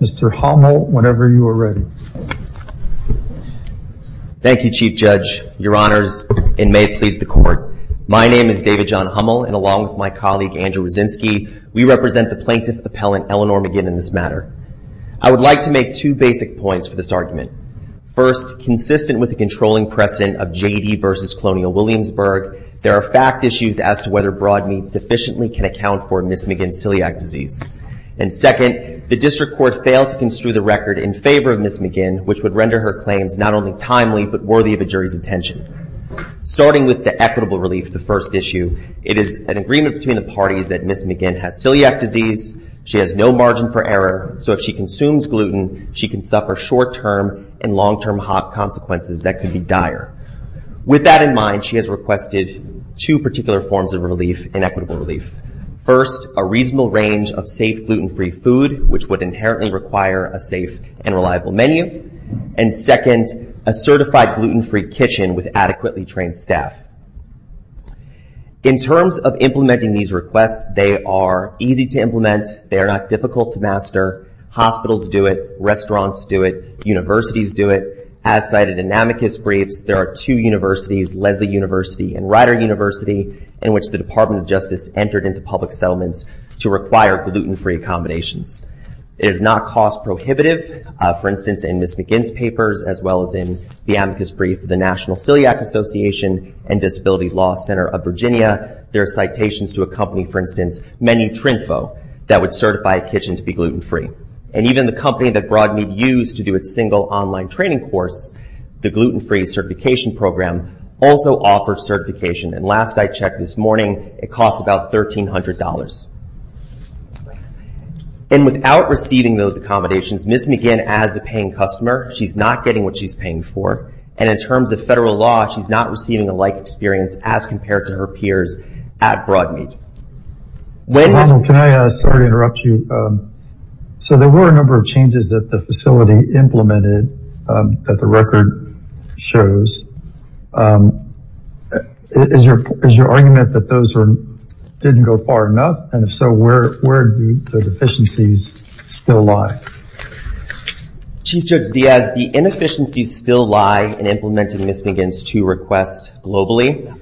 Mr. Hummel, whenever you are ready. Thank you, Chief Judge, Your Honors, and may it please the Court. My name is David John Hummel, and along with my colleague Andrew Wyszynski, we represent the Plaintiff Appellant Eleanor McGinn in this matter. I would like to make two basic points for this argument. First, consistent with the controlling precedent of J.D. v. Colonial Williamsburg, there are fact issues as to whether Broadmead sufficiently can account for Ms. McGinn's celiac disease. And second, the District Court failed to construe the record in favor of Ms. McGinn, which would render her claims not only timely, but worthy of a jury's attention. Starting with the equitable relief, the first issue, it is an agreement between the parties that Ms. McGinn has celiac disease, she has no margin for error, so if she consumes gluten, she can suffer short-term and long-term hop consequences that could be dire. With that in mind, she has requested two particular forms of relief and equitable relief. First, a reasonable range of safe, gluten-free food, which would inherently require a safe and reliable menu. And second, a certified gluten-free kitchen with adequately trained staff. In terms of implementing these requests, they are easy to implement, they are not difficult to master, hospitals do it, restaurants do it, universities do it. As cited in amicus briefs, there are two universities, Lesley University and Rider University, in which the Department of Justice entered into public settlements to require gluten-free accommodations. It is not cost prohibitive, for instance, in Ms. McGinn's papers, as well as in the amicus brief of the National Celiac Association and Disability Law Center of Virginia. There are citations to a company, for instance, Menu Trinfo, that would certify a kitchen to be gluten-free. And even the company that BroadMeet used to do its single online training course, the gluten-free certification program, also offers certification. And last I checked this morning, it costs about $1,300. And without receiving those accommodations, Ms. McGinn, as a paying customer, she's not getting what she's paying for, and in terms of federal law, she's not receiving a like experience as compared to her peers at BroadMeet. So, Ronald, can I, sorry to interrupt you. So there were a number of changes that the facility implemented that the record shows. Is your argument that those didn't go far enough, and if so, where do the deficiencies still lie? Chief Judge Diaz, the inefficiencies still lie in implementing Ms. McGinn's two requests globally.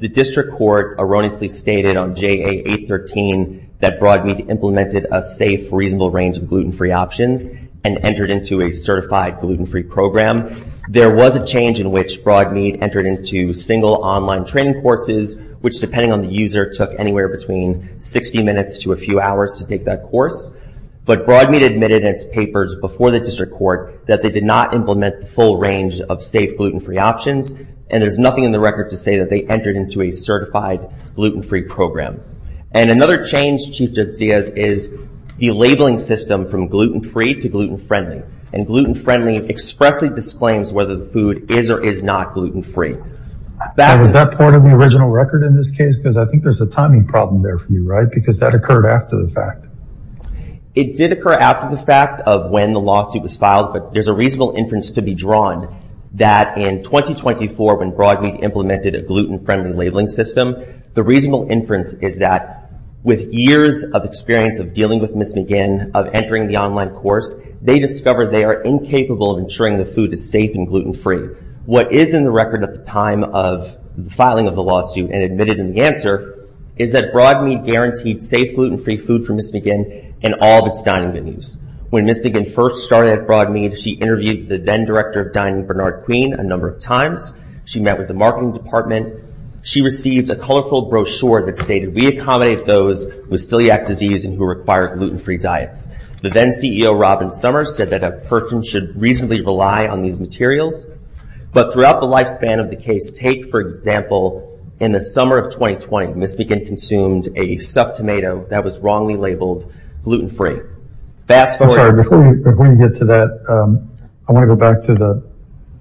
The district court erroneously stated on JA 813 that BroadMeet implemented a safe, reasonable range of gluten-free options and entered into a certified gluten-free program. There was a change in which BroadMeet entered into single online training courses, which depending on the user, took anywhere between 60 minutes to a few hours to take that course. But BroadMeet admitted in its papers before the district court that they did not implement the full range of safe gluten-free options, and there's nothing in the record to say that they entered into a certified gluten-free program. And another change, Chief Judge Diaz, is the labeling system from gluten-free to gluten-friendly, and gluten-friendly expressly disclaims whether the food is or is not gluten-free. And was that part of the original record in this case? Because I think there's a timing problem there for you, right? Because that occurred after the fact. It did occur after the fact of when the lawsuit was filed, but there's a reasonable inference to be drawn that in 2024 when BroadMeet implemented a gluten-friendly labeling system, the reasonable inference is that with years of experience of dealing with Ms. McGinn, of entering the online course, they discovered they are incapable of ensuring the food is safe and gluten-free. What is in the record at the time of the filing of the lawsuit and admitted in the answer is that BroadMeet guaranteed safe gluten-free food for Ms. McGinn in all of its dining venues. When Ms. McGinn first started at BroadMeet, she interviewed the then Director of Dining, Bernard Queen, a number of times. She met with the marketing department. She received a colorful brochure that stated, we accommodate those with celiac disease and who require gluten-free diets. The then CEO, Robin Summers, said that a person should reasonably rely on these materials. But throughout the lifespan of the case, take, for example, in the summer of 2020, Ms. McGinn consumed a stuffed tomato that was wrongly labeled gluten-free. Before you get to that, I want to go back to the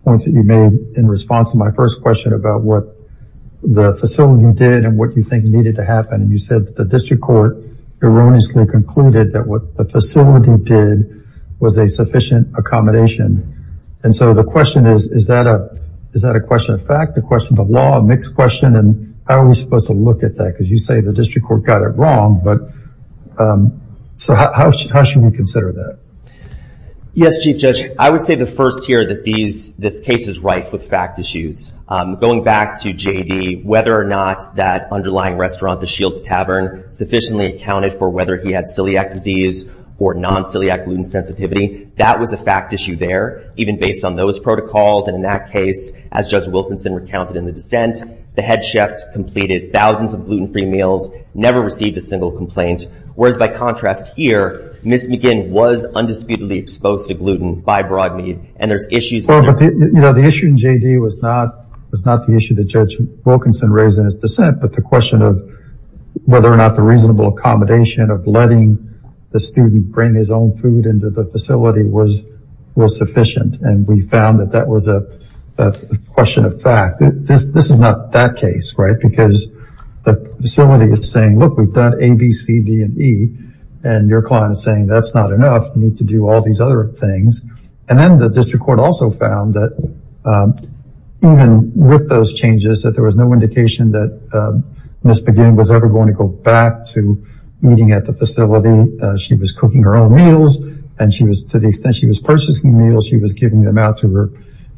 points that you made in response to my first question about what the facility did and what you think needed to happen. You said that the district court erroneously concluded that what the facility did was a sufficient accommodation. The question is, is that a question of fact, a question of law, a mixed question? And how are we supposed to look at that? Because you say the district court got it wrong. So how should we consider that? Yes, Chief Judge, I would say the first here that this case is rife with fact issues. Going back to J.D., whether or not that underlying restaurant, the Shields Tavern, sufficiently accounted for whether he had celiac disease or non-celiac gluten sensitivity, that was a fact issue there, even based on those protocols and in that case, as Judge Wilkinson recounted in the dissent, the head chef completed thousands of gluten-free meals, never received a single complaint. Whereas by contrast here, Ms. McGinn was undisputedly exposed to gluten by broad meat and there's issues with that. Well, but the issue in J.D. was not the issue that Judge Wilkinson raised in his dissent, but the question of whether or not the reasonable accommodation of letting the student bring his own food into the facility was sufficient and we found that that was a question of fact. This is not that case, right? Because the facility is saying, look, we've done A, B, C, D, and E, and your client is saying that's not enough, we need to do all these other things. And then the district court also found that even with those changes, that there was no indication that Ms. McGinn was ever going to go back to eating at the facility. She was cooking her own meals and to the extent she was purchasing meals, she was giving them out to her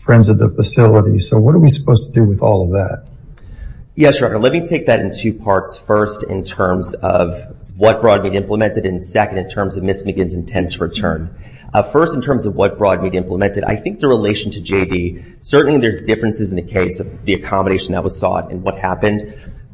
friends at the facility. So what are we supposed to do with all of that? Yes, Your Honor. Let me take that in two parts. First in terms of what broad meat implemented and second in terms of Ms. McGinn's intent to return. First, in terms of what broad meat implemented, I think the relation to J.D., certainly there's differences in the case of the accommodation that was sought and what happened.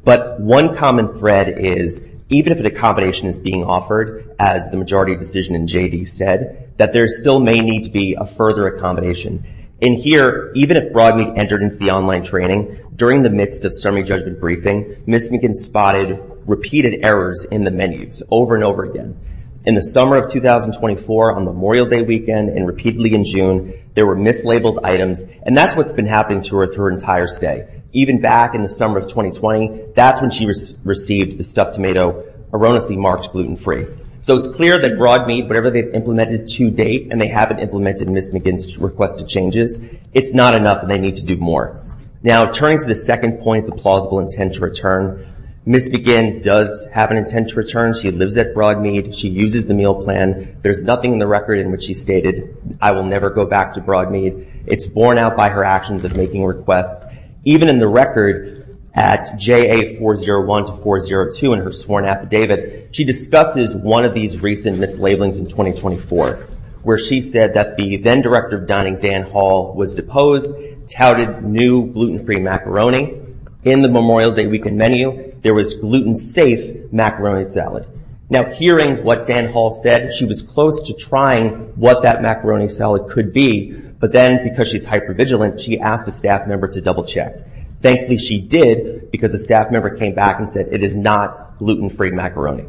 But one common thread is even if an accommodation is being offered, as the majority decision in J.D. said, that there still may need to be a further accommodation. In here, even if broad meat entered into the online training, during the midst of summary judgment briefing, Ms. McGinn spotted repeated errors in the menus over and over again. In the summer of 2024 on Memorial Day weekend and repeatedly in June, there were mislabeled items and that's what's been happening to her through her entire stay. Even back in the summer of 2020, that's when she received the stuffed tomato erroneously marked gluten-free. So it's clear that broad meat, whatever they've implemented to date and they haven't implemented Ms. McGinn's requested changes, it's not enough and they need to do more. Now turning to the second point, the plausible intent to return, Ms. McGinn does have an intent to return. She lives at Broadmead. She uses the meal plan. There's nothing in the record in which she stated, I will never go back to Broadmead. It's borne out by her actions of making requests. Even in the record at JA401 to 402 in her sworn affidavit, she discusses one of these recent mislabelings in 2024 where she said that the then Director of Dining, Dan Hall, was deposed, touted new gluten-free macaroni. In the Memorial Day weekend menu, there was gluten-safe macaroni salad. Now hearing what Dan Hall said, she was close to trying what that macaroni salad could be, but then because she's hypervigilant, she asked a staff member to double check. Thankfully, she did because a staff member came back and said, it is not gluten-free macaroni.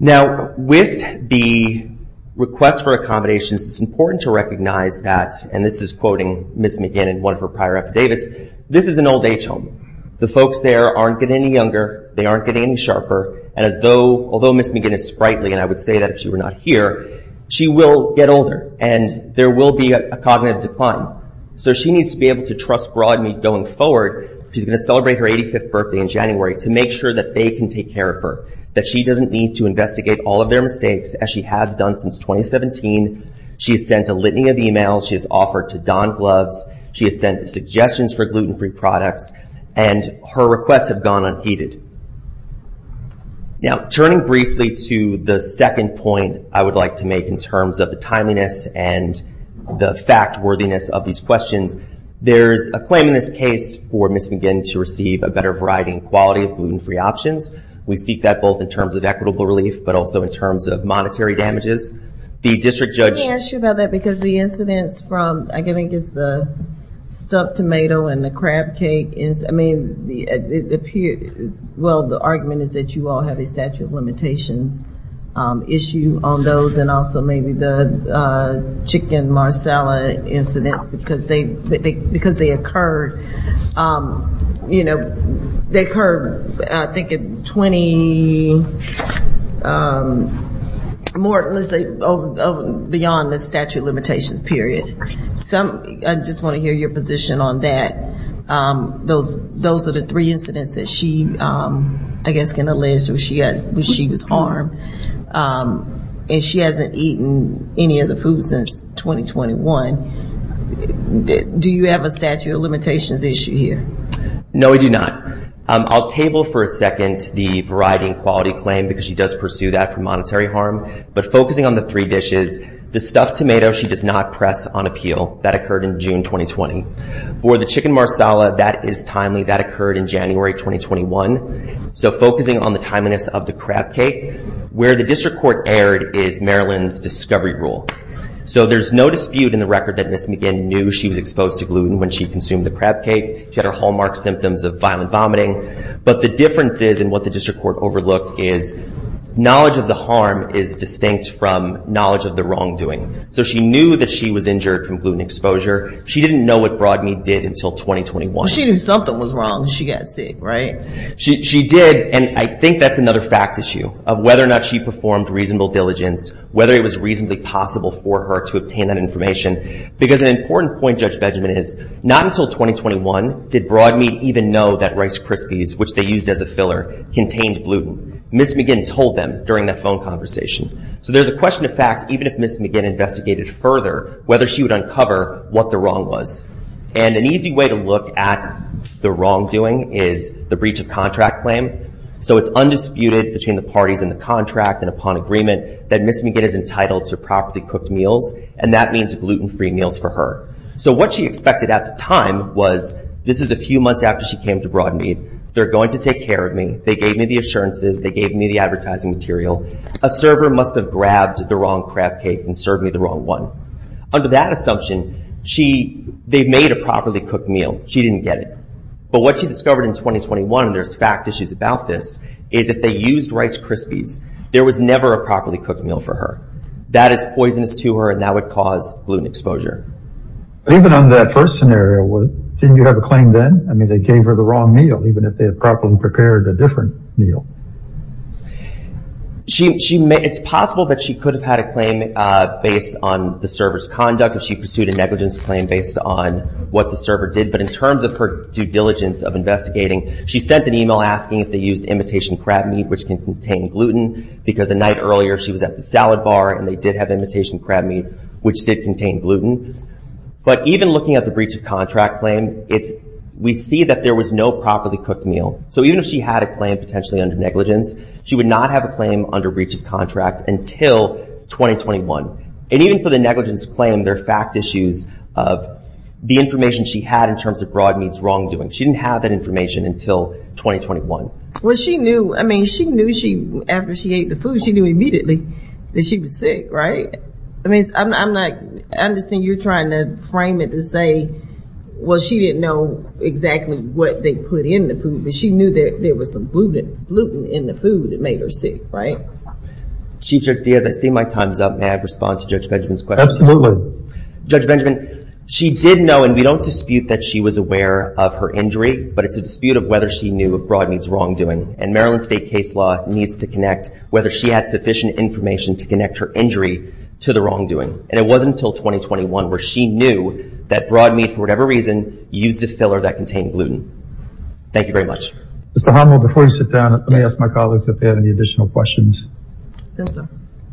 With the request for accommodations, it's important to recognize that, and this is quoting Ms. McGinn in one of her prior affidavits, this is an old age home. The folks there aren't getting any younger, they aren't getting any sharper, and although Ms. McGinn is sprightly, and I would say that if she were not here, she will get older and there will be a cognitive decline. She needs to be able to trust Broadmead going forward. She's going to celebrate her 85th birthday in January to make sure that they can take care of her, that she doesn't need to investigate all of their mistakes as she has done since 2017. She has sent a litany of emails, she has offered to don gloves, she has sent suggestions for gluten-free products, and her requests have gone unheeded. Now turning briefly to the second point I would like to make in terms of the timeliness and the fact-worthiness of these questions, there's a claim in this case for Ms. McGinn to receive a better variety and quality of gluten-free options. We seek that both in terms of equitable relief, but also in terms of monetary damages. The district judge- Let me ask you about that because the incidents from, I think it's the stuffed tomato and the crab cake, I mean, it appears, well, the argument is that you all have a statute of limitations issue on those, and also maybe the chicken marsala incident because they occurred, you know, they occurred, I think, at 20 more, let's say, beyond the statute of limitations period. So I just want to hear your position on that. Those are the three incidents that she, I guess, can allege she was harmed, and she hasn't eaten any of the food since 2021. Do you have a statute of limitations issue here? No, we do not. I'll table for a second the variety and quality claim because she does pursue that for monetary harm, but focusing on the three dishes, the stuffed tomato she does not press on appeal, that occurred in June 2020. For the chicken marsala, that is timely. That occurred in January 2021. So focusing on the timeliness of the crab cake, where the district court erred is Maryland's discovery rule. So there's no dispute in the record that Ms. McGinn knew she was exposed to gluten when she consumed the crab cake. She had her hallmark symptoms of violent vomiting, but the differences in what the district court overlooked is knowledge of the harm is distinct from knowledge of the wrongdoing. So she knew that she was injured from gluten exposure. She didn't know what Broadmeat did until 2021. She knew something was wrong. She got sick, right? She did, and I think that's another fact issue of whether or not she performed reasonable diligence, whether it was reasonably possible for her to obtain that information. Because an important point, Judge Benjamin, is not until 2021 did Broadmeat even know that Rice Krispies, which they used as a filler, contained gluten. Ms. McGinn told them during that phone conversation. So there's a question of fact, even if Ms. McGinn investigated further, whether she would uncover what the wrong was. And an easy way to look at the wrongdoing is the breach of contract claim. So it's undisputed between the parties in the contract and upon agreement that Ms. McGinn is entitled to properly cooked meals, and that means gluten-free meals for her. So what she expected at the time was, this is a few months after she came to Broadmeat. They're going to take care of me. They gave me the assurances. They gave me the advertising material. A server must have grabbed the wrong crab cake and served me the wrong one. Under that assumption, they made a properly cooked meal. She didn't get it. But what she discovered in 2021, and there's fact issues about this, is that they used Rice Krispies. There was never a properly cooked meal for her. That is poisonous to her, and that would cause gluten exposure. Even on that first scenario, didn't you have a claim then? I mean, they gave her the wrong meal, even if they had properly prepared a different meal. It's possible that she could have had a claim based on the server's conduct, if she pursued a negligence claim based on what the server did, but in terms of her due diligence of investigating, she sent an email asking if they used imitation crab meat, which can contain gluten, because the night earlier, she was at the salad bar, and they did have imitation crab meat, which did contain gluten. But even looking at the breach of contract claim, we see that there was no properly cooked meal. So even if she had a claim potentially under negligence, she would not have a claim under breach of contract until 2021. And even for the negligence claim, there are fact issues of the information she had in terms of broad means wrongdoing. She didn't have that information until 2021. Well, she knew, I mean, she knew after she ate the food, she knew immediately that she was sick, right? I mean, I'm not, I understand you're trying to frame it to say, well, she didn't know exactly what they put in the food, but she knew that there was some gluten in the food that made her sick, right? Chief Judge Diaz, I see my time's up. May I respond to Judge Benjamin's question? Judge Benjamin, she did know, and we don't dispute that she was aware of her injury, but it's a dispute of whether she knew of broad means wrongdoing. And Maryland state case law needs to connect whether she had sufficient information to connect her injury to the wrongdoing. And it wasn't until 2021 where she knew that broad meat, for whatever reason, used a filler that contained gluten. Thank you very much. Mr. Harnell, before you sit down, let me ask my colleagues if they have any additional questions. Yes, sir.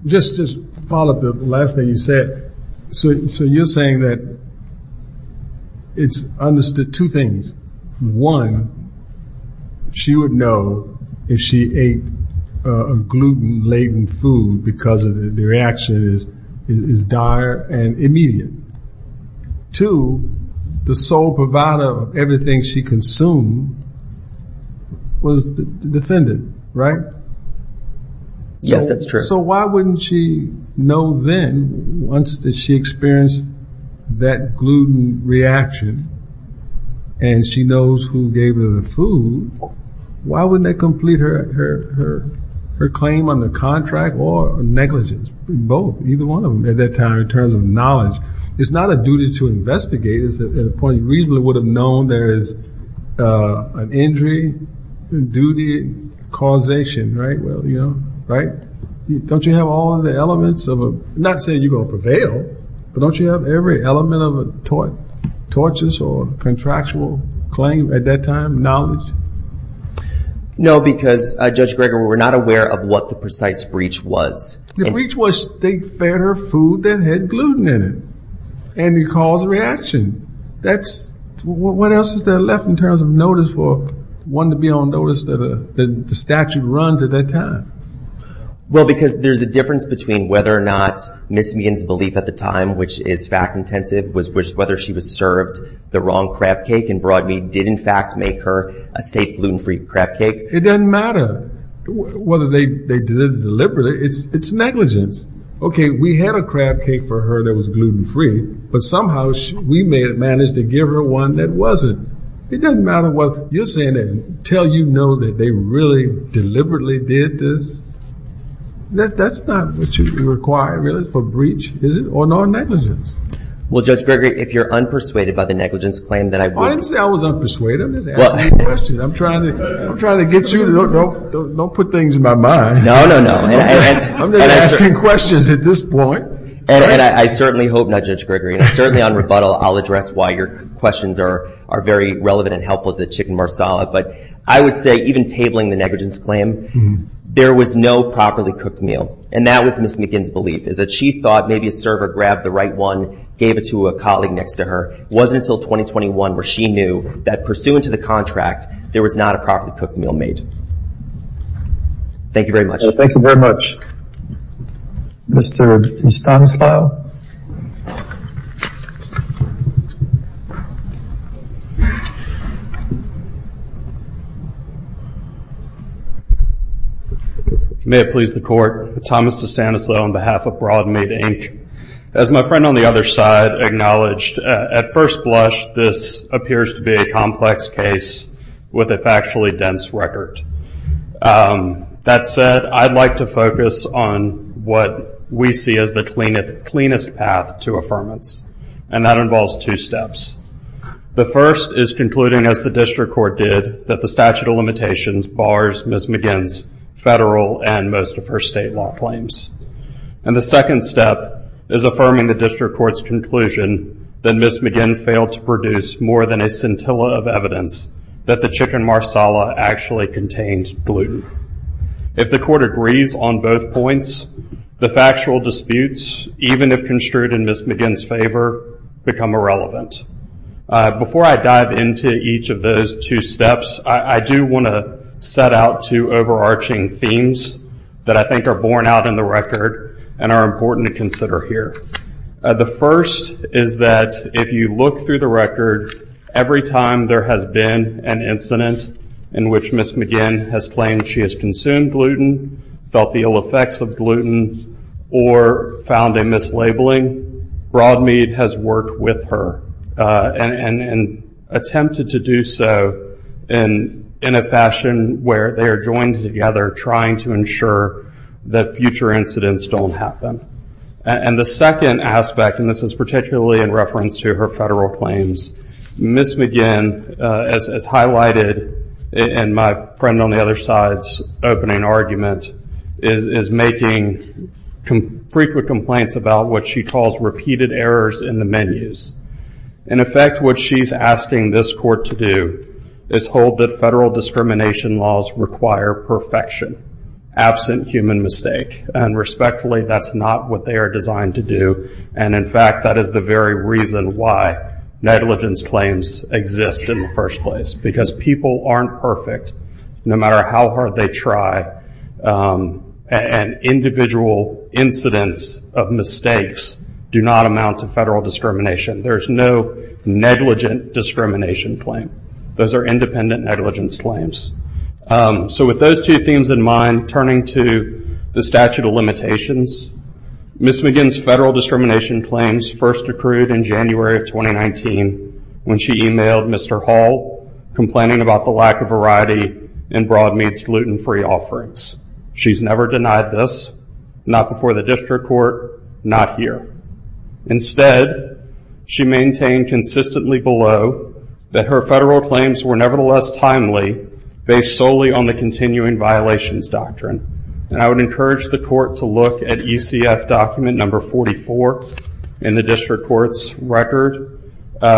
Just to follow up the last thing you said, so you're saying that it's understood two things. One, she would know if she ate a gluten laden food because the reaction is dire and immediate. Two, the sole provider of everything she consumed was the defendant, right? Yes, that's true. So why wouldn't she know then, once she experienced that gluten reaction and she knows who gave her the food, why wouldn't that complete her claim on the contract or negligence? Both, either one of them at that time in terms of knowledge. It's not a duty to investigate. It's a point you reasonably would have known there is an injury, duty, causation, right? Well, you know, right? Don't you have all of the elements of a, not saying you're going to prevail, but don't you have every element of a tortious or contractual claim at that time, knowledge? No, because Judge Greger, we're not aware of what the precise breach was. The breach was they fed her food that had gluten in it and it caused a reaction. That's, what else is there left in terms of notice for one to be on notice that the statute runs at that time? Well, because there's a difference between whether or not Ms. Meehan's belief at the time, which is fact intensive, was whether she was served the wrong crab cake and Broadmead did in fact make her a safe gluten-free crab cake. It doesn't matter whether they did it deliberately. It's negligence. Okay, we had a crab cake for her that was gluten-free, but somehow we managed to give her one that wasn't. It doesn't matter whether you're saying that until you know that they really deliberately did this. That's not what you require really for breach, is it? Or non-negligence. Well, Judge Greger, if you're unpersuaded by the negligence claim that I- I didn't say I was unpersuaded. I'm just asking a question. I'm trying to get you to, don't put things in my mind. No, no, no. I'm just asking questions at this point. And I certainly hope not, Judge Greger. And certainly on rebuttal, I'll address why your questions are very relevant and helpful to Chicken Marsala. But I would say even tabling the negligence claim, there was no properly cooked meal. And that was Ms. Meehan's belief, is that she thought maybe a server grabbed the right one, gave it to a colleague next to her. It wasn't until 2021 where she knew that pursuant to the contract, there was not a properly cooked meal made. Thank you very much. Thank you very much. Mr. Stanislau? May it please the Court. Thomas Stanislau on behalf of Broadmead, Inc. As my friend on the other side acknowledged, at first blush, this appears to be a complex case with a factually dense record. That said, I'd like to focus on what we see as the cleanest path to affirmance. And that involves two steps. The first is concluding, as the district court did, that the statute of limitations bars Ms. Meehan's federal and most of her state law claims. And the second step is affirming the district court's conclusion that Ms. Meehan failed to produce more than a scintilla of evidence that the chicken marsala actually contained gluten. If the court agrees on both points, the factual disputes, even if construed in Ms. Meehan's favor, become irrelevant. Before I dive into each of those two steps, I do want to set out two overarching themes that I think are borne out in the record and are important to consider here. The first is that if you look through the record, every time there has been an incident in which Ms. Meehan has claimed she has consumed gluten, felt the ill effects of gluten, or found a mislabeling, Broadmead has worked with her and attempted to do so in a fashion where they are joined together trying to ensure that future incidents don't happen. And the second aspect, and this is particularly in reference to her federal claims, Ms. Meehan as highlighted in my friend on the other side's opening argument, is making frequent complaints about what she calls repeated errors in the menus. In effect, what she's asking this court to do is hold that federal discrimination laws require perfection, absent human mistake. And respectfully, that's not what they are designed to do. And in fact, that is the very reason why negligence claims exist in the first place. Because people aren't perfect, no matter how hard they try, and individual incidents of mistakes do not amount to federal discrimination. There's no negligent discrimination claim. Those are independent negligence claims. So with those two themes in mind, turning to the statute of limitations, Ms. Meehan's federal discrimination claims first accrued in January of 2019 when she emailed Mr. Hall complaining about the lack of variety in Broadmeat's gluten-free offerings. She's never denied this, not before the district court, not here. Instead, she maintained consistently below that her federal claims were nevertheless timely based solely on the continuing violations doctrine. And I would encourage the court to look at ECF document number 44 in the district court's record,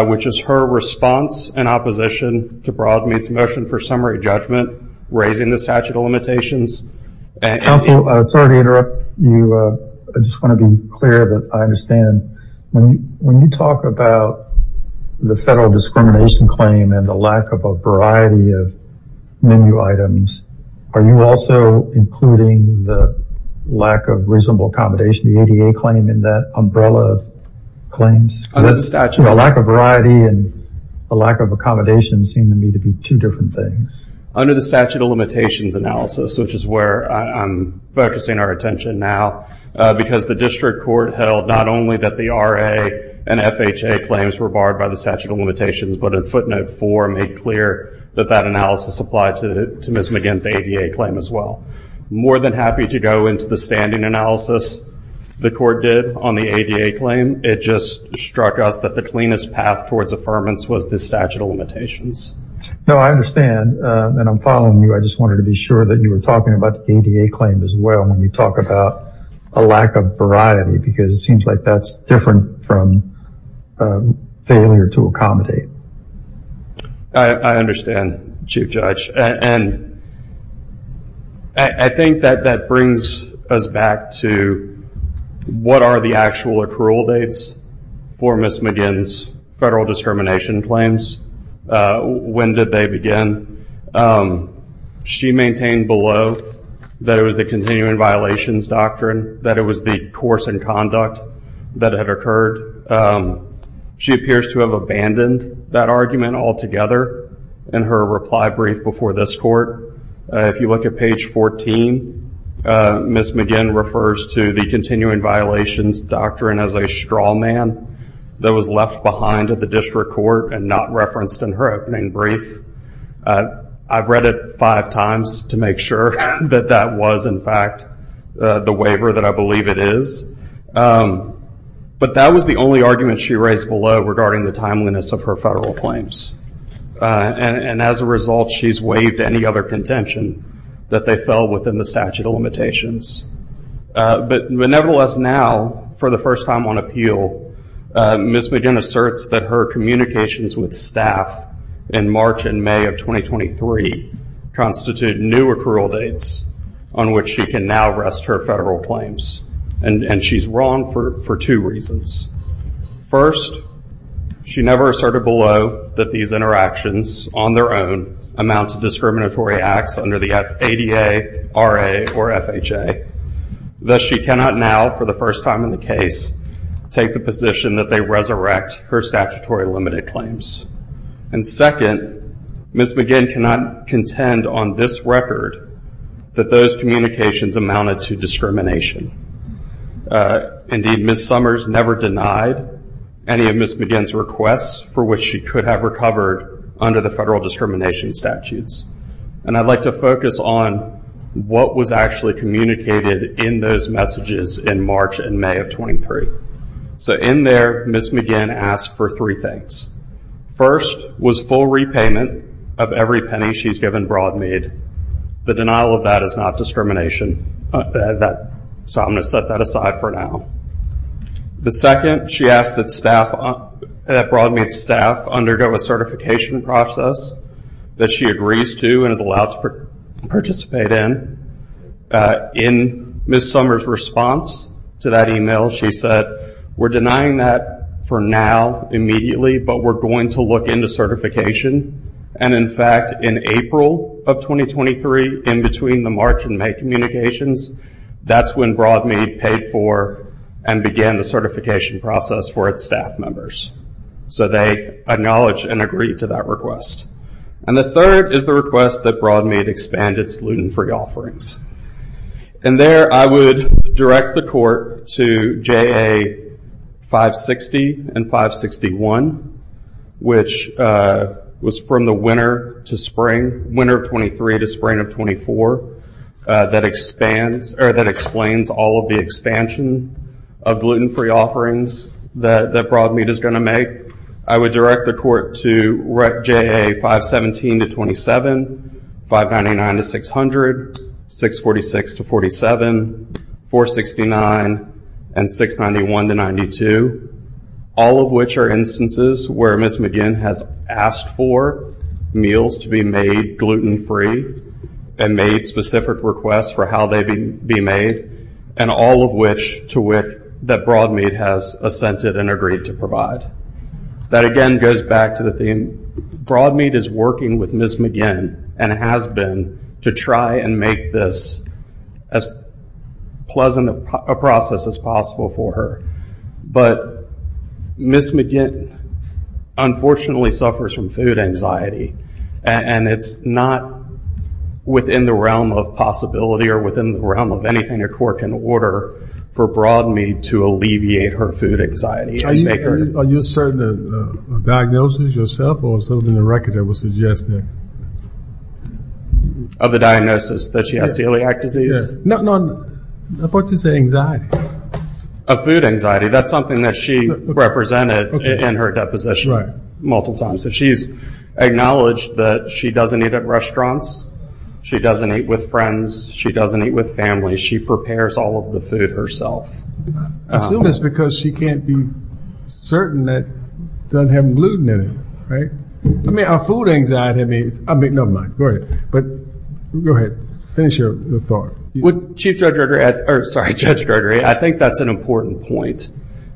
which is her response in opposition to Broadmeat's motion for summary judgment raising the statute of limitations. Counsel, sorry to interrupt you. I just want to be clear that I understand when you talk about the federal discrimination claim and the lack of a variety of menu items, are you also including the lack of reasonable accommodation, the ADA claim in that umbrella of claims? Under the statute. A lack of variety and a lack of accommodation seem to me to be two different things. Under the statute of limitations analysis, which is where I'm focusing our attention now, because the district court held not only that the RA and FHA claims were barred by statute of limitations, but in footnote four made clear that that analysis applied to Ms. McGinn's ADA claim as well. More than happy to go into the standing analysis the court did on the ADA claim. It just struck us that the cleanest path towards affirmance was the statute of limitations. No, I understand. And I'm following you. I just wanted to be sure that you were talking about the ADA claim as well when you talk about a lack of variety, because it seems like that's different from failure to accommodate. I understand, Chief Judge. And I think that that brings us back to what are the actual accrual dates for Ms. McGinn's federal discrimination claims? When did they begin? Ms. McGinn, she maintained below that it was the continuing violations doctrine, that it was the course and conduct that had occurred. She appears to have abandoned that argument altogether in her reply brief before this court. If you look at page 14, Ms. McGinn refers to the continuing violations doctrine as a straw man that was left behind at the district court and not referenced in her opening brief. I've read it five times to make sure that that was, in fact, the waiver that I believe it is. But that was the only argument she raised below regarding the timeliness of her federal claims. And as a result, she's waived any other contention that they fell within the statute of limitations. But nevertheless, now, for the first time on appeal, Ms. McGinn, she's wrong for two reasons. First, she never asserted below that these interactions on their own amount to discriminatory acts under the ADA, RA, or FHA. Thus, she cannot now, for the first time in the case, take the position that they resurrect her statutory limited claims. And second, Ms. McGinn cannot contend on this record that those communications amounted to discrimination. Indeed, Ms. Summers never denied any of Ms. McGinn's requests for which she could have recovered under the federal discrimination statutes. And I'd like to focus on what was actually communicated in those messages in March and May of 23. So in there, Ms. McGinn asked for three things. First, was full repayment of every penny she's given Broadmead. The denial of that is not discrimination. So I'm going to set that aside for now. The second, she asked that Broadmead staff undergo a certification process that she agrees to and is allowed to participate in. In Ms. Summers' response to that email, she said, we're denying that for now, immediately, but we're going to look into certification. And in fact, in April of 2023, in between the March and May communications, that's when Broadmead paid for and began the certification process for its staff members. So they acknowledged and agreed to that request. And the third is the request that Broadmead expand its loot and free offerings. And there, I would direct the court to JA 560 and 561, which was from the winter to spring, winter of 23 to spring of 24, that explains all of the expansion of gluten-free offerings that Broadmead is going to make. I would direct the court to JA 517 to 27, 599 to 600, 646 to 47, 469, and 691 to 92, all of which are instances where Ms. McGinn has asked for meals to be made gluten-free and made specific requests for how they be made, and all of which that Broadmead has assented and agreed to provide. That, again, goes back to the theme, Broadmead is working with Ms. McGinn and has been to try and make this as pleasant a process as possible for her. But Ms. McGinn, unfortunately, suffers from food anxiety, and it's not within the realm of possibility or within the realm of anything a court can order for Broadmead to alleviate her food anxiety. Are you certain of the diagnosis yourself or something in the record that was suggested? Of the diagnosis, that she has celiac disease? No, no, I thought you said anxiety. Of food anxiety. That's something that she represented in her deposition multiple times. So she's acknowledged that she doesn't eat at restaurants, she doesn't eat with friends, she doesn't eat with family, she prepares all of the food herself. I assume it's because she can't be certain that she doesn't have gluten in it, right? I mean, her food anxiety, I mean, never mind, go ahead. But go ahead, finish your thought. Sorry, Judge Gregory, I think that's an important point.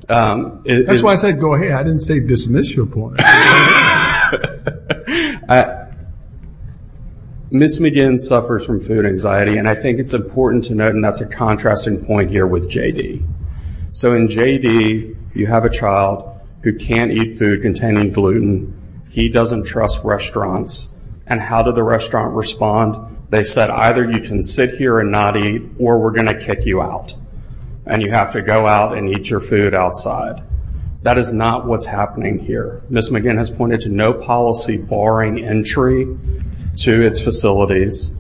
That's why I said go ahead, I didn't say dismiss your point. Ms. McGinn suffers from food anxiety, and I think it's important to note, and that's a contrasting point here with J.D. So in J.D., you have a child who can't eat food containing gluten, he doesn't trust restaurants, and how did the restaurant respond? They said either you can sit here and not eat, or we're going to kick you out, and you have to go out and eat your food outside. That is not what's happening here. Ms. McGinn has pointed to no policy barring entry to its facilities.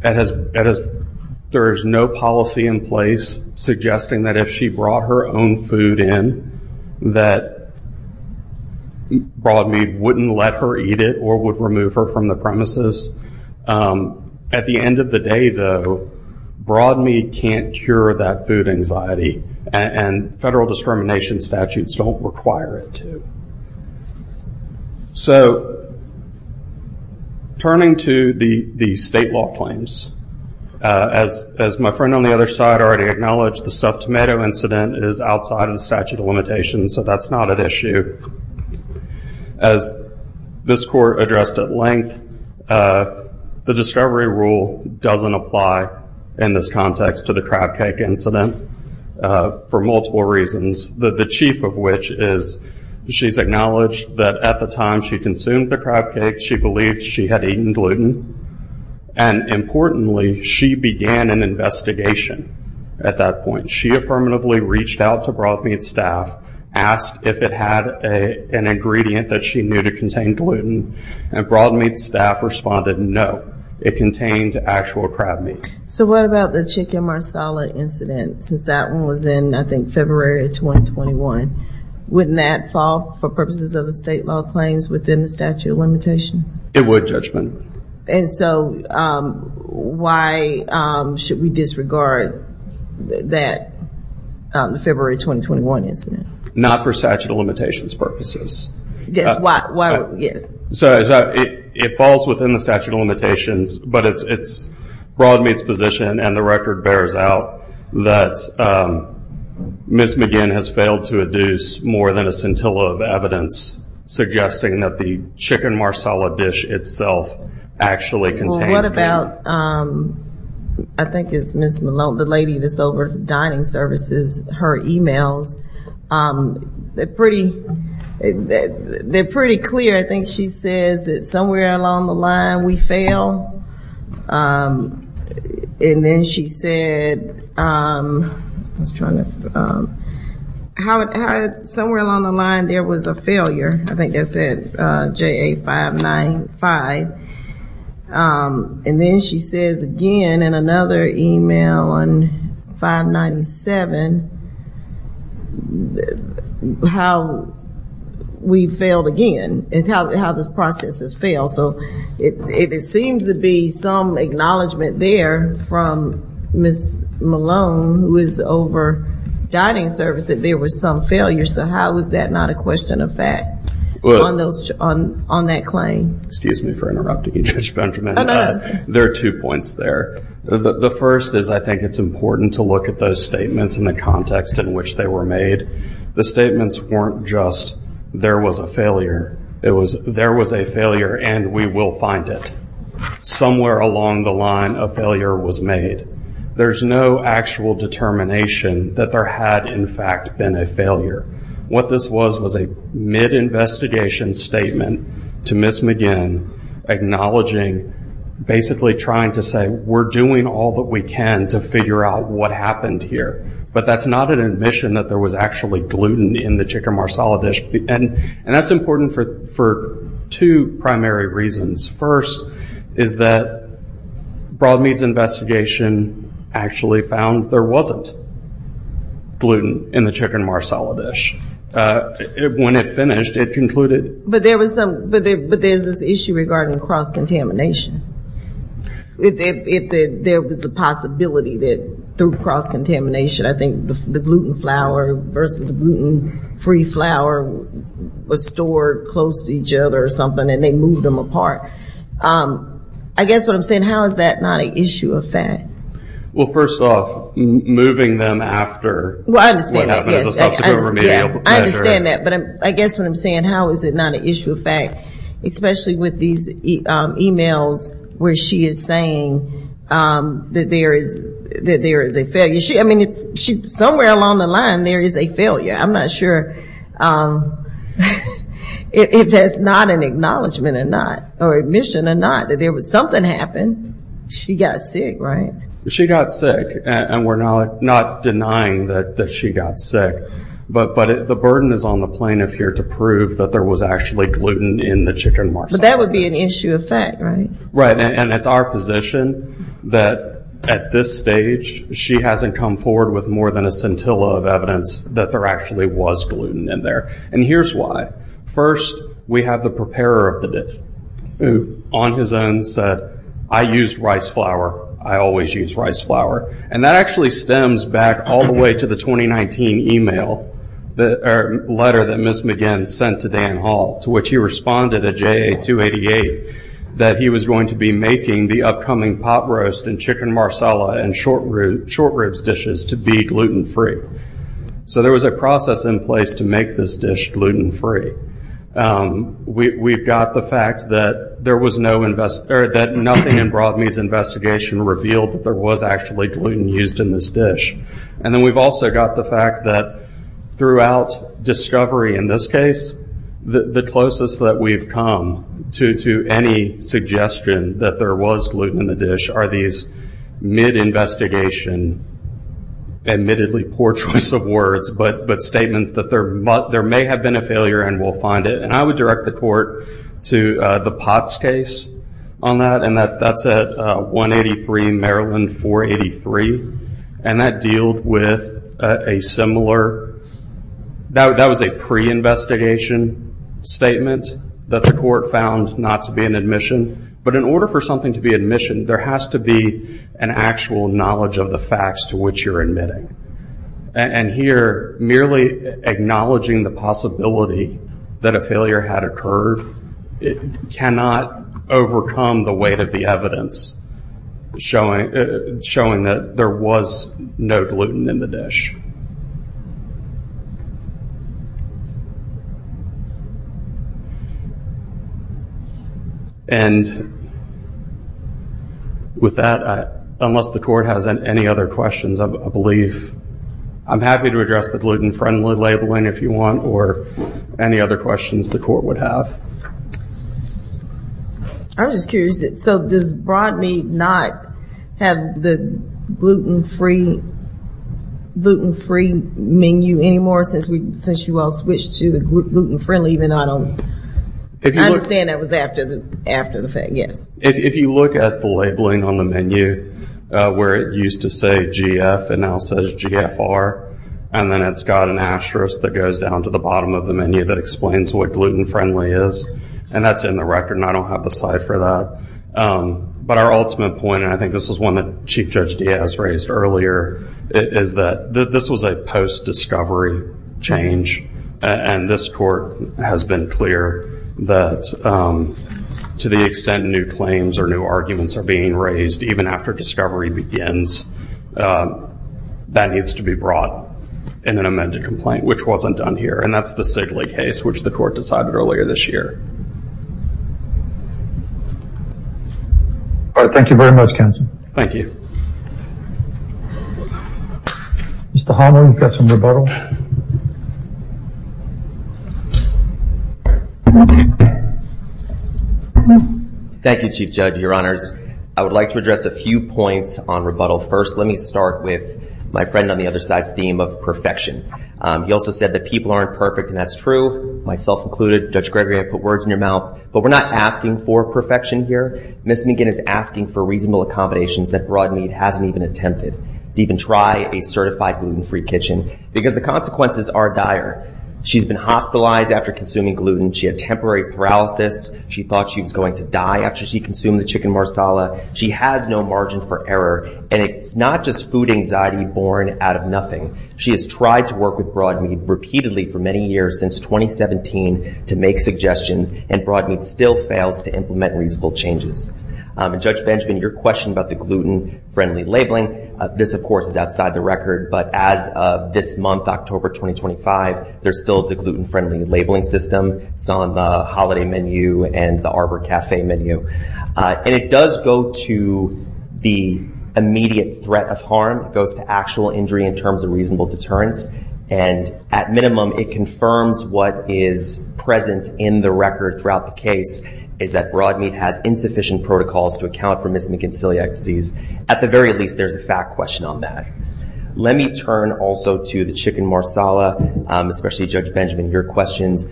There is no policy in place suggesting that if she brought her own food in, that Broadmead wouldn't let her eat it or would remove her from the premises. At the end of the day, though, Broadmead can't cure that food anxiety, and federal discrimination statutes don't require it to. So, turning to the state law claims, as my friend on the other side already acknowledged, the stuffed tomato incident is outside of the statute of limitations, so that's not an issue. As this court addressed at length, the discovery rule doesn't apply in this context to the acknowledged that at the time she consumed the crab cake, she believed she had eaten gluten, and importantly, she began an investigation at that point. She affirmatively reached out to Broadmead staff, asked if it had an ingredient that she knew to contain gluten, and Broadmead staff responded no. It contained actual crab meat. So, what about the chicken marsala incident? Since that one was in, I think, February of 2021. Wouldn't that fall for purposes of the state law claims within the statute of limitations? It would, Judge McGinn. And so, why should we disregard that February 2021 incident? Not for statute of limitations purposes. Yes, why? So, it falls within the statute of limitations, but it's Broadmead's position, and the court bears out, that Ms. McGinn has failed to adduce more than a scintilla of evidence suggesting that the chicken marsala dish itself actually contains gluten. Well, what about, I think it's Ms. Malone, the lady that's over dining services, her emails. They're pretty clear. I think she says that somewhere along the line, we fail. And then she said, I was trying to, how, somewhere along the line, there was a failure. I think that said, JA 595. And then she says again, in another email on 597, how we failed again, and how this process has failed. So, it seems to be some acknowledgement there from Ms. Malone, who is over dining services, there was some failure. So, how is that not a question of fact on that claim? Excuse me for interrupting you, Judge Benjamin. There are two points there. The first is, I think it's important to look at those statements in the context in which they were made. The statements weren't just, there was a failure. And we will find it. Somewhere along the line, a failure was made. There's no actual determination that there had, in fact, been a failure. What this was, was a mid-investigation statement to Ms. McGinn, acknowledging, basically trying to say, we're doing all that we can to figure out what happened here. But that's not an admission that there was actually gluten in the chicken marsala dish. And that's important for two primary reasons. First, is that Broadmead's investigation actually found there wasn't gluten in the chicken marsala dish. When it finished, it concluded. But there's this issue regarding cross-contamination. There was a possibility that through cross-contamination, I think the gluten flour versus gluten-free flour was stored close to each other or something, and they moved them apart. I guess what I'm saying, how is that not an issue of fact? Well, first off, moving them after what happened is a subsequent remedial measure. I understand that. But I guess what I'm saying, how is it not an issue of fact? Especially with these emails where she is saying that there is a failure. I mean, somewhere along the line, there is a failure. I'm not sure if that's not an acknowledgment or not, or admission or not, that there was something happened. She got sick, right? She got sick, and we're not denying that she got sick. But the burden is on the plaintiff here to prove that there was actually gluten in the chicken marsala dish. But that would be an issue of fact, right? Right, and it's our position that at this stage, she hasn't come forward with more than a scintilla of evidence that there actually was gluten in there. And here's why. First, we have the preparer of the dish, who on his own said, I used rice flour. I always use rice flour. And that actually stems back all the way to the 2019 email, or letter that Ms. McGinn sent to Dan Hall, to which he responded at JA 288, that he was going to be making the upcoming pot roast and chicken marsala and short ribs dishes to be gluten free. So there was a process in place to make this dish gluten free. We've got the fact that nothing in Broadmeat's investigation revealed that there was actually gluten used in this dish. And then we've also got the fact that throughout discovery in this case, the closest that we've come to any suggestion that there was gluten in the dish are these mid-investigation, admittedly poor choice of words, but statements that there may have been a failure and we'll find it. And I would direct the court to the POTS case on that. And that's at 183 Maryland 483. And that was a pre-investigation statement that the court found not to be an admission. But in order for something to be admission, there has to be an actual knowledge of the facts to which you're admitting. And here, merely acknowledging the possibility that a failure had occurred cannot overcome the weight of the evidence showing that there was no gluten in the dish. And with that, unless the court has any other questions, I believe I'm happy to address the gluten friendly labeling if you want, or any other questions the court would have. I was just curious. So does Broadmeat not have the gluten-free menu anymore since you all switched to gluten friendly? Even though I don't understand that was after the fact. Yes. If you look at the labeling on the menu where it used to say GF and now says GFR, and then it's got an asterisk that goes down to the bottom of the menu that explains what gluten friendly is. And that's in the record. And I don't have the slide for that. But our ultimate point, and I think this was one that Chief Judge Diaz raised earlier, is that this was a post-discovery change. And this court has been clear that to the extent new claims or new arguments are being raised, even after discovery begins, that needs to be brought in an amended complaint, which wasn't done here. And that's the Sigley case, which the court decided earlier this year. All right. Thank you very much, counsel. Thank you. Mr. Hono, you've got some rebuttal. Thank you, Chief Judge, your honors. I would like to address a few points on rebuttal first. Let me start with my friend on the other side's theme of perfection. He also said that people aren't perfect. And that's true, myself included. Judge Gregory, I put words in your mouth. But we're not asking for perfection here. Ms. McGinn is asking for reasonable accommodations that Broadmead hasn't even attempted, to even try a certified gluten-free kitchen, because the consequences are dire. She's been hospitalized after consuming gluten. She had temporary paralysis. She thought she was going to die after she consumed the chicken marsala. She has no margin for error. And it's not just food anxiety born out of nothing. She has tried to work with Broadmead repeatedly for many years, since 2017, to make suggestions. And Broadmead still fails to implement reasonable changes. Judge Benjamin, your question about the gluten-friendly labeling, this, of course, is outside the record. But as of this month, October 2025, there's still the gluten-friendly labeling system. It's on the holiday menu and the Arbor Cafe menu. And it does go to the immediate threat of harm. It goes to actual injury in terms of reasonable deterrence. And at minimum, it confirms what is present in the record throughout the case, is that Broadmead has insufficient protocols to account for Ms. McGinn's celiac disease. At the very least, there's a fact question on that. Let me turn also to the chicken marsala, especially Judge Benjamin, your questions.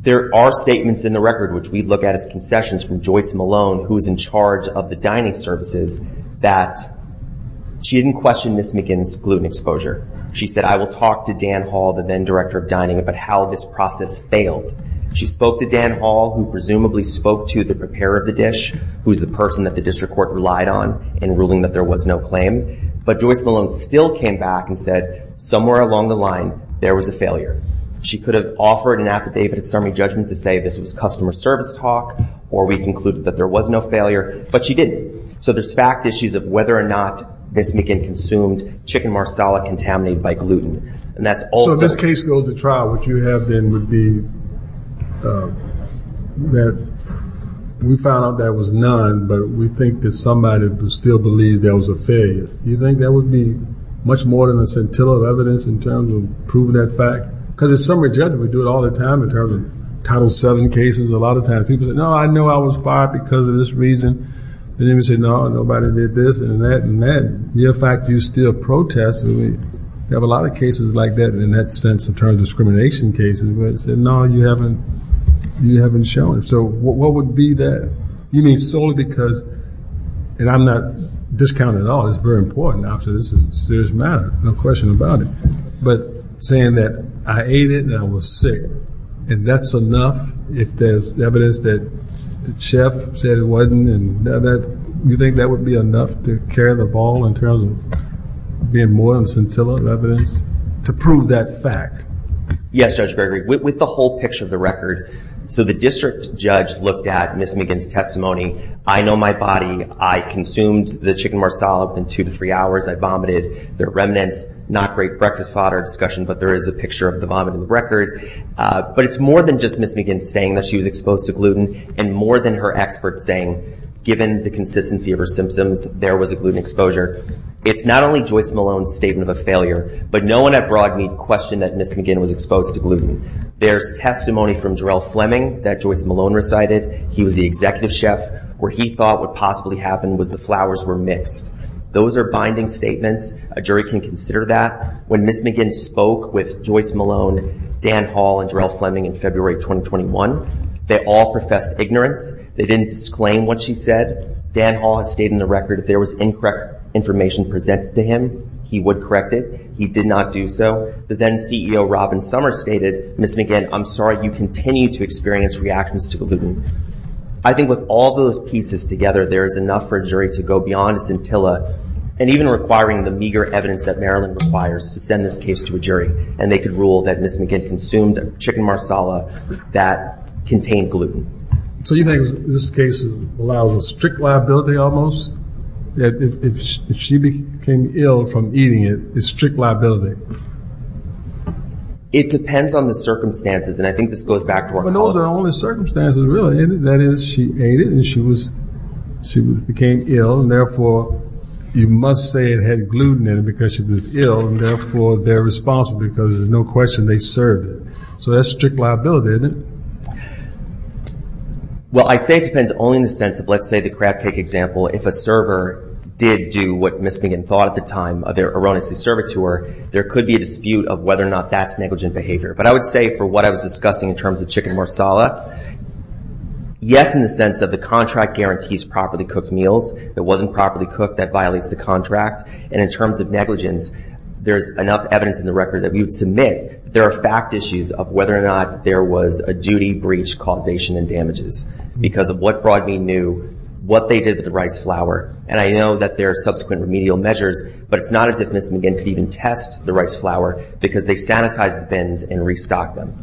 There are statements in the record, which we look at as concessions from Joyce Malone, who is in charge of the dining services, that she didn't question Ms. McGinn's gluten exposure. She said, I will talk to Dan Hall, the then director of dining, about how this process failed. She spoke to Dan Hall, who presumably spoke to the preparer of the dish, who is the person that the district court relied on in ruling that there was no claim. But Joyce Malone still came back and said, somewhere along the line, there was a failure. She could have offered an affidavit at summary judgment to say this was customer service talk, or we concluded that there was no failure, but she didn't. So there's fact issues of whether or not Ms. McGinn consumed chicken marsala contaminated by gluten. And that's also- So this case goes to trial. What you have then would be that we found out there was none, but we think that somebody still believes there was a failure. Do you think that would be much more than a scintilla of evidence in terms of proving that fact? Because at summary judgment, we do it all the time in terms of Title VII cases. A lot of times people say, no, I know I was fired because of this reason. And then we say, no, nobody did this, and that, and that. The other fact is you still protest. And we have a lot of cases like that in that sense in terms of discrimination cases, where they say, no, you haven't shown it. So what would be that? You mean solely because- And I'm not discounting at all. It's very important. Obviously, this is a serious matter. No question about it. But saying that I ate it and I was sick, and that's enough if there's evidence that the chef said it wasn't, and you think that would be enough to carry the ball in terms of being more than scintilla of evidence to prove that fact? Yes, Judge Gregory. With the whole picture of the record, so the district judge looked at Ms. McGinn's testimony. I know my body. I consumed the chicken more solid than two to three hours. I vomited. The remnants, not great breakfast fodder discussion, but there is a picture of the vomiting record. But it's more than just Ms. McGinn saying that she was exposed to gluten and more than her expert saying, given the consistency of her symptoms, there was a gluten exposure. It's not only Joyce Malone's statement of a failure, but no one at Broadme questioned that Ms. McGinn was exposed to gluten. There's testimony from Jarrell Fleming that Joyce Malone recited. He was the executive chef where he thought what possibly happened was the flowers were mixed. Those are binding statements. A jury can consider that. When Ms. McGinn spoke with Joyce Malone, Dan Hall, and Jarrell Fleming in February 2021, they all professed ignorance. They didn't disclaim what she said. Dan Hall has stated in the record if there was incorrect information presented to him, he would correct it. He did not do so. But then CEO Robin Summers stated, Ms. McGinn, I'm sorry, you continue to experience reactions to gluten. I think with all those pieces together, there is enough for a jury to go beyond scintilla and even requiring the meager evidence that Maryland requires to send this case to a jury. And they could rule that Ms. McGinn consumed chicken marsala that contained gluten. So you think this case allows a strict liability almost? If she became ill from eating it, it's strict liability? It depends on the circumstances. And I think this goes back to our- But those are only circumstances, really. That is, she ate it and she became ill. And therefore, you must say it had gluten in it because she was ill. And therefore, they're responsible because there's no question they served it. So that's strict liability, isn't it? Well, I say it depends only in the sense of, let's say the crab cake example. If a server did do what Ms. McGinn thought at the time of their erroneously served it to her, there could be a dispute of whether or not that's negligent behavior. But I would say for what I was discussing in terms of chicken marsala, yes, in the sense of the contract guarantees properly cooked meals. If it wasn't properly cooked, that violates the contract. And in terms of negligence, there's enough evidence in the record that we would submit there are fact issues of whether or not there was a duty breach causation and damages because of what Broadbean knew, what they did with the rice flour. And I know that there are subsequent remedial measures, but it's not as if Ms. McGinn could even test the rice flour because they sanitized the bins and restocked them.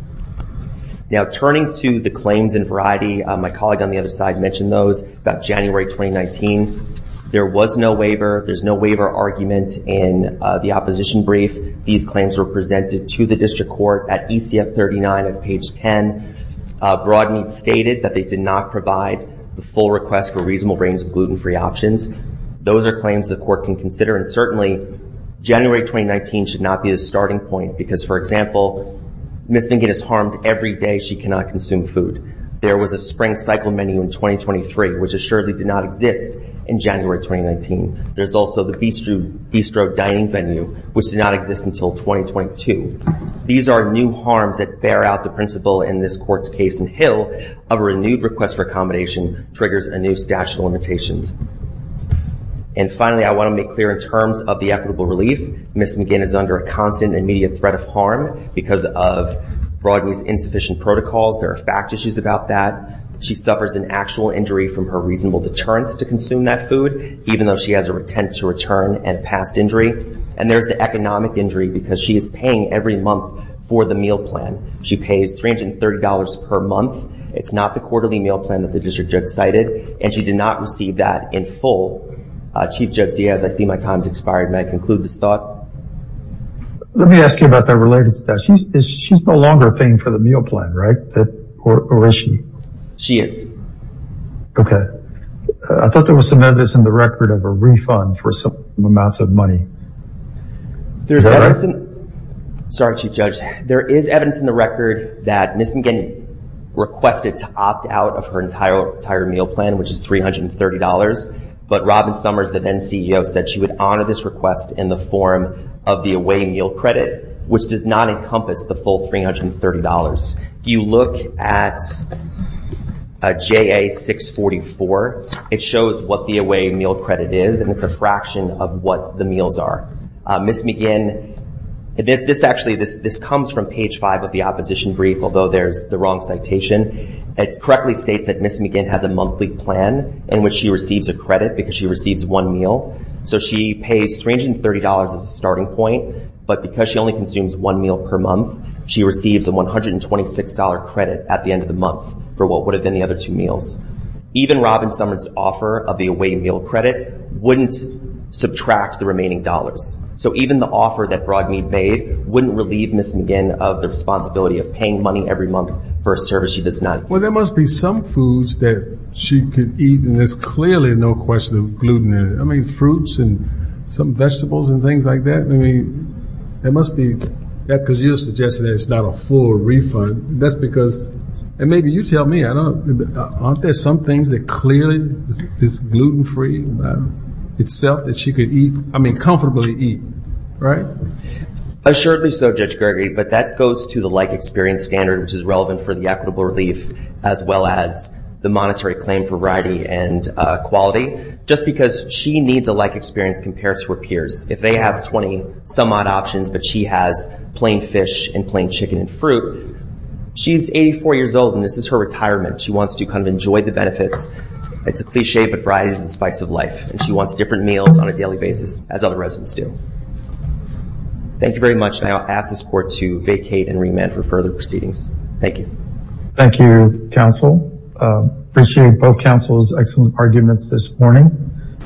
Now, turning to the claims in variety, my colleague on the other side mentioned those about January 2019. There was no waiver. There's no waiver argument in the opposition brief. These claims were presented to the district court at ECF 39 at page 10. Broadbean stated that they did not provide the full request for reasonable range of gluten-free options. Those are claims the court can consider. And certainly January 2019 should not be a starting point because for example, Ms. McGinn is harmed every day she cannot consume food. There was a spring cycle menu in 2023 which assuredly did not exist in January 2019. There's also the bistro dining venue which did not exist until 2022. These are new harms that bear out the principle in this court's case in Hill of a renewed request for accommodation triggers a new stash of limitations. And finally, I want to make clear in terms of the equitable relief, Ms. McGinn is under a constant immediate threat of harm because of Broadway's insufficient protocols. There are fact issues about that. She suffers an actual injury from her reasonable deterrence to consume that food even though she has a intent to return and past injury. And there's the economic injury because she is paying every month for the meal plan. She pays $330 per month. It's not the quarterly meal plan that the district judge cited and she did not receive that in full. Chief Judge Diaz, I see my time's expired. May I conclude this thought? Let me ask you about that related to that. She's no longer paying for the meal plan, right? Or is she? She is. Okay. I thought there was some evidence in the record of a refund for some amounts of money. Sorry, Chief Judge. There is evidence in the record that Ms. McGinn requested to opt out of her entire meal plan, which is $330. But Robin Summers, the then CEO, said she would honor this request in the form of the away meal credit, which does not encompass the full $330. If you look at JA-644, it shows what the away meal credit is and it's a fraction of what the meals are. Ms. McGinn, this actually, this comes from page five of the opposition brief, although there's the wrong citation. It correctly states that Ms. McGinn has a monthly plan in which she receives a credit because she receives one meal. So she pays $330 as a starting point, but because she only consumes one meal per month, she receives a $126 credit at the end of the month for what would have been the other two meals. Even Robin Summers' offer of the away meal credit wouldn't subtract the remaining dollars. So even the offer that Broadme made wouldn't relieve Ms. McGinn of the responsibility of paying money every month for a service she does not use. Well, there must be some foods that she could eat and there's clearly no question of gluten in it. I mean, fruits and some vegetables and things like that. I mean, there must be, because you're suggesting that it's not a full refund. That's because, and maybe you tell me, aren't there some things that clearly is gluten-free itself that she could eat? I mean, comfortably eat, right? Assuredly so, Judge Gregory, but that goes to the like experience standard, which is relevant for the equitable relief as well as the monetary claim variety and quality, just because she needs a like experience compared to her peers. If they have 20 some odd options, but she has plain fish and plain chicken and fruit. She's 84 years old and this is her retirement. She wants to kind of enjoy the benefits. It's a cliche, but variety is the spice of life. And she wants different meals on a daily basis as other residents do. Thank you very much. And I'll ask this court to vacate and remand for further proceedings. Thank you. Thank you, counsel. Appreciate both counsel's excellent arguments this morning.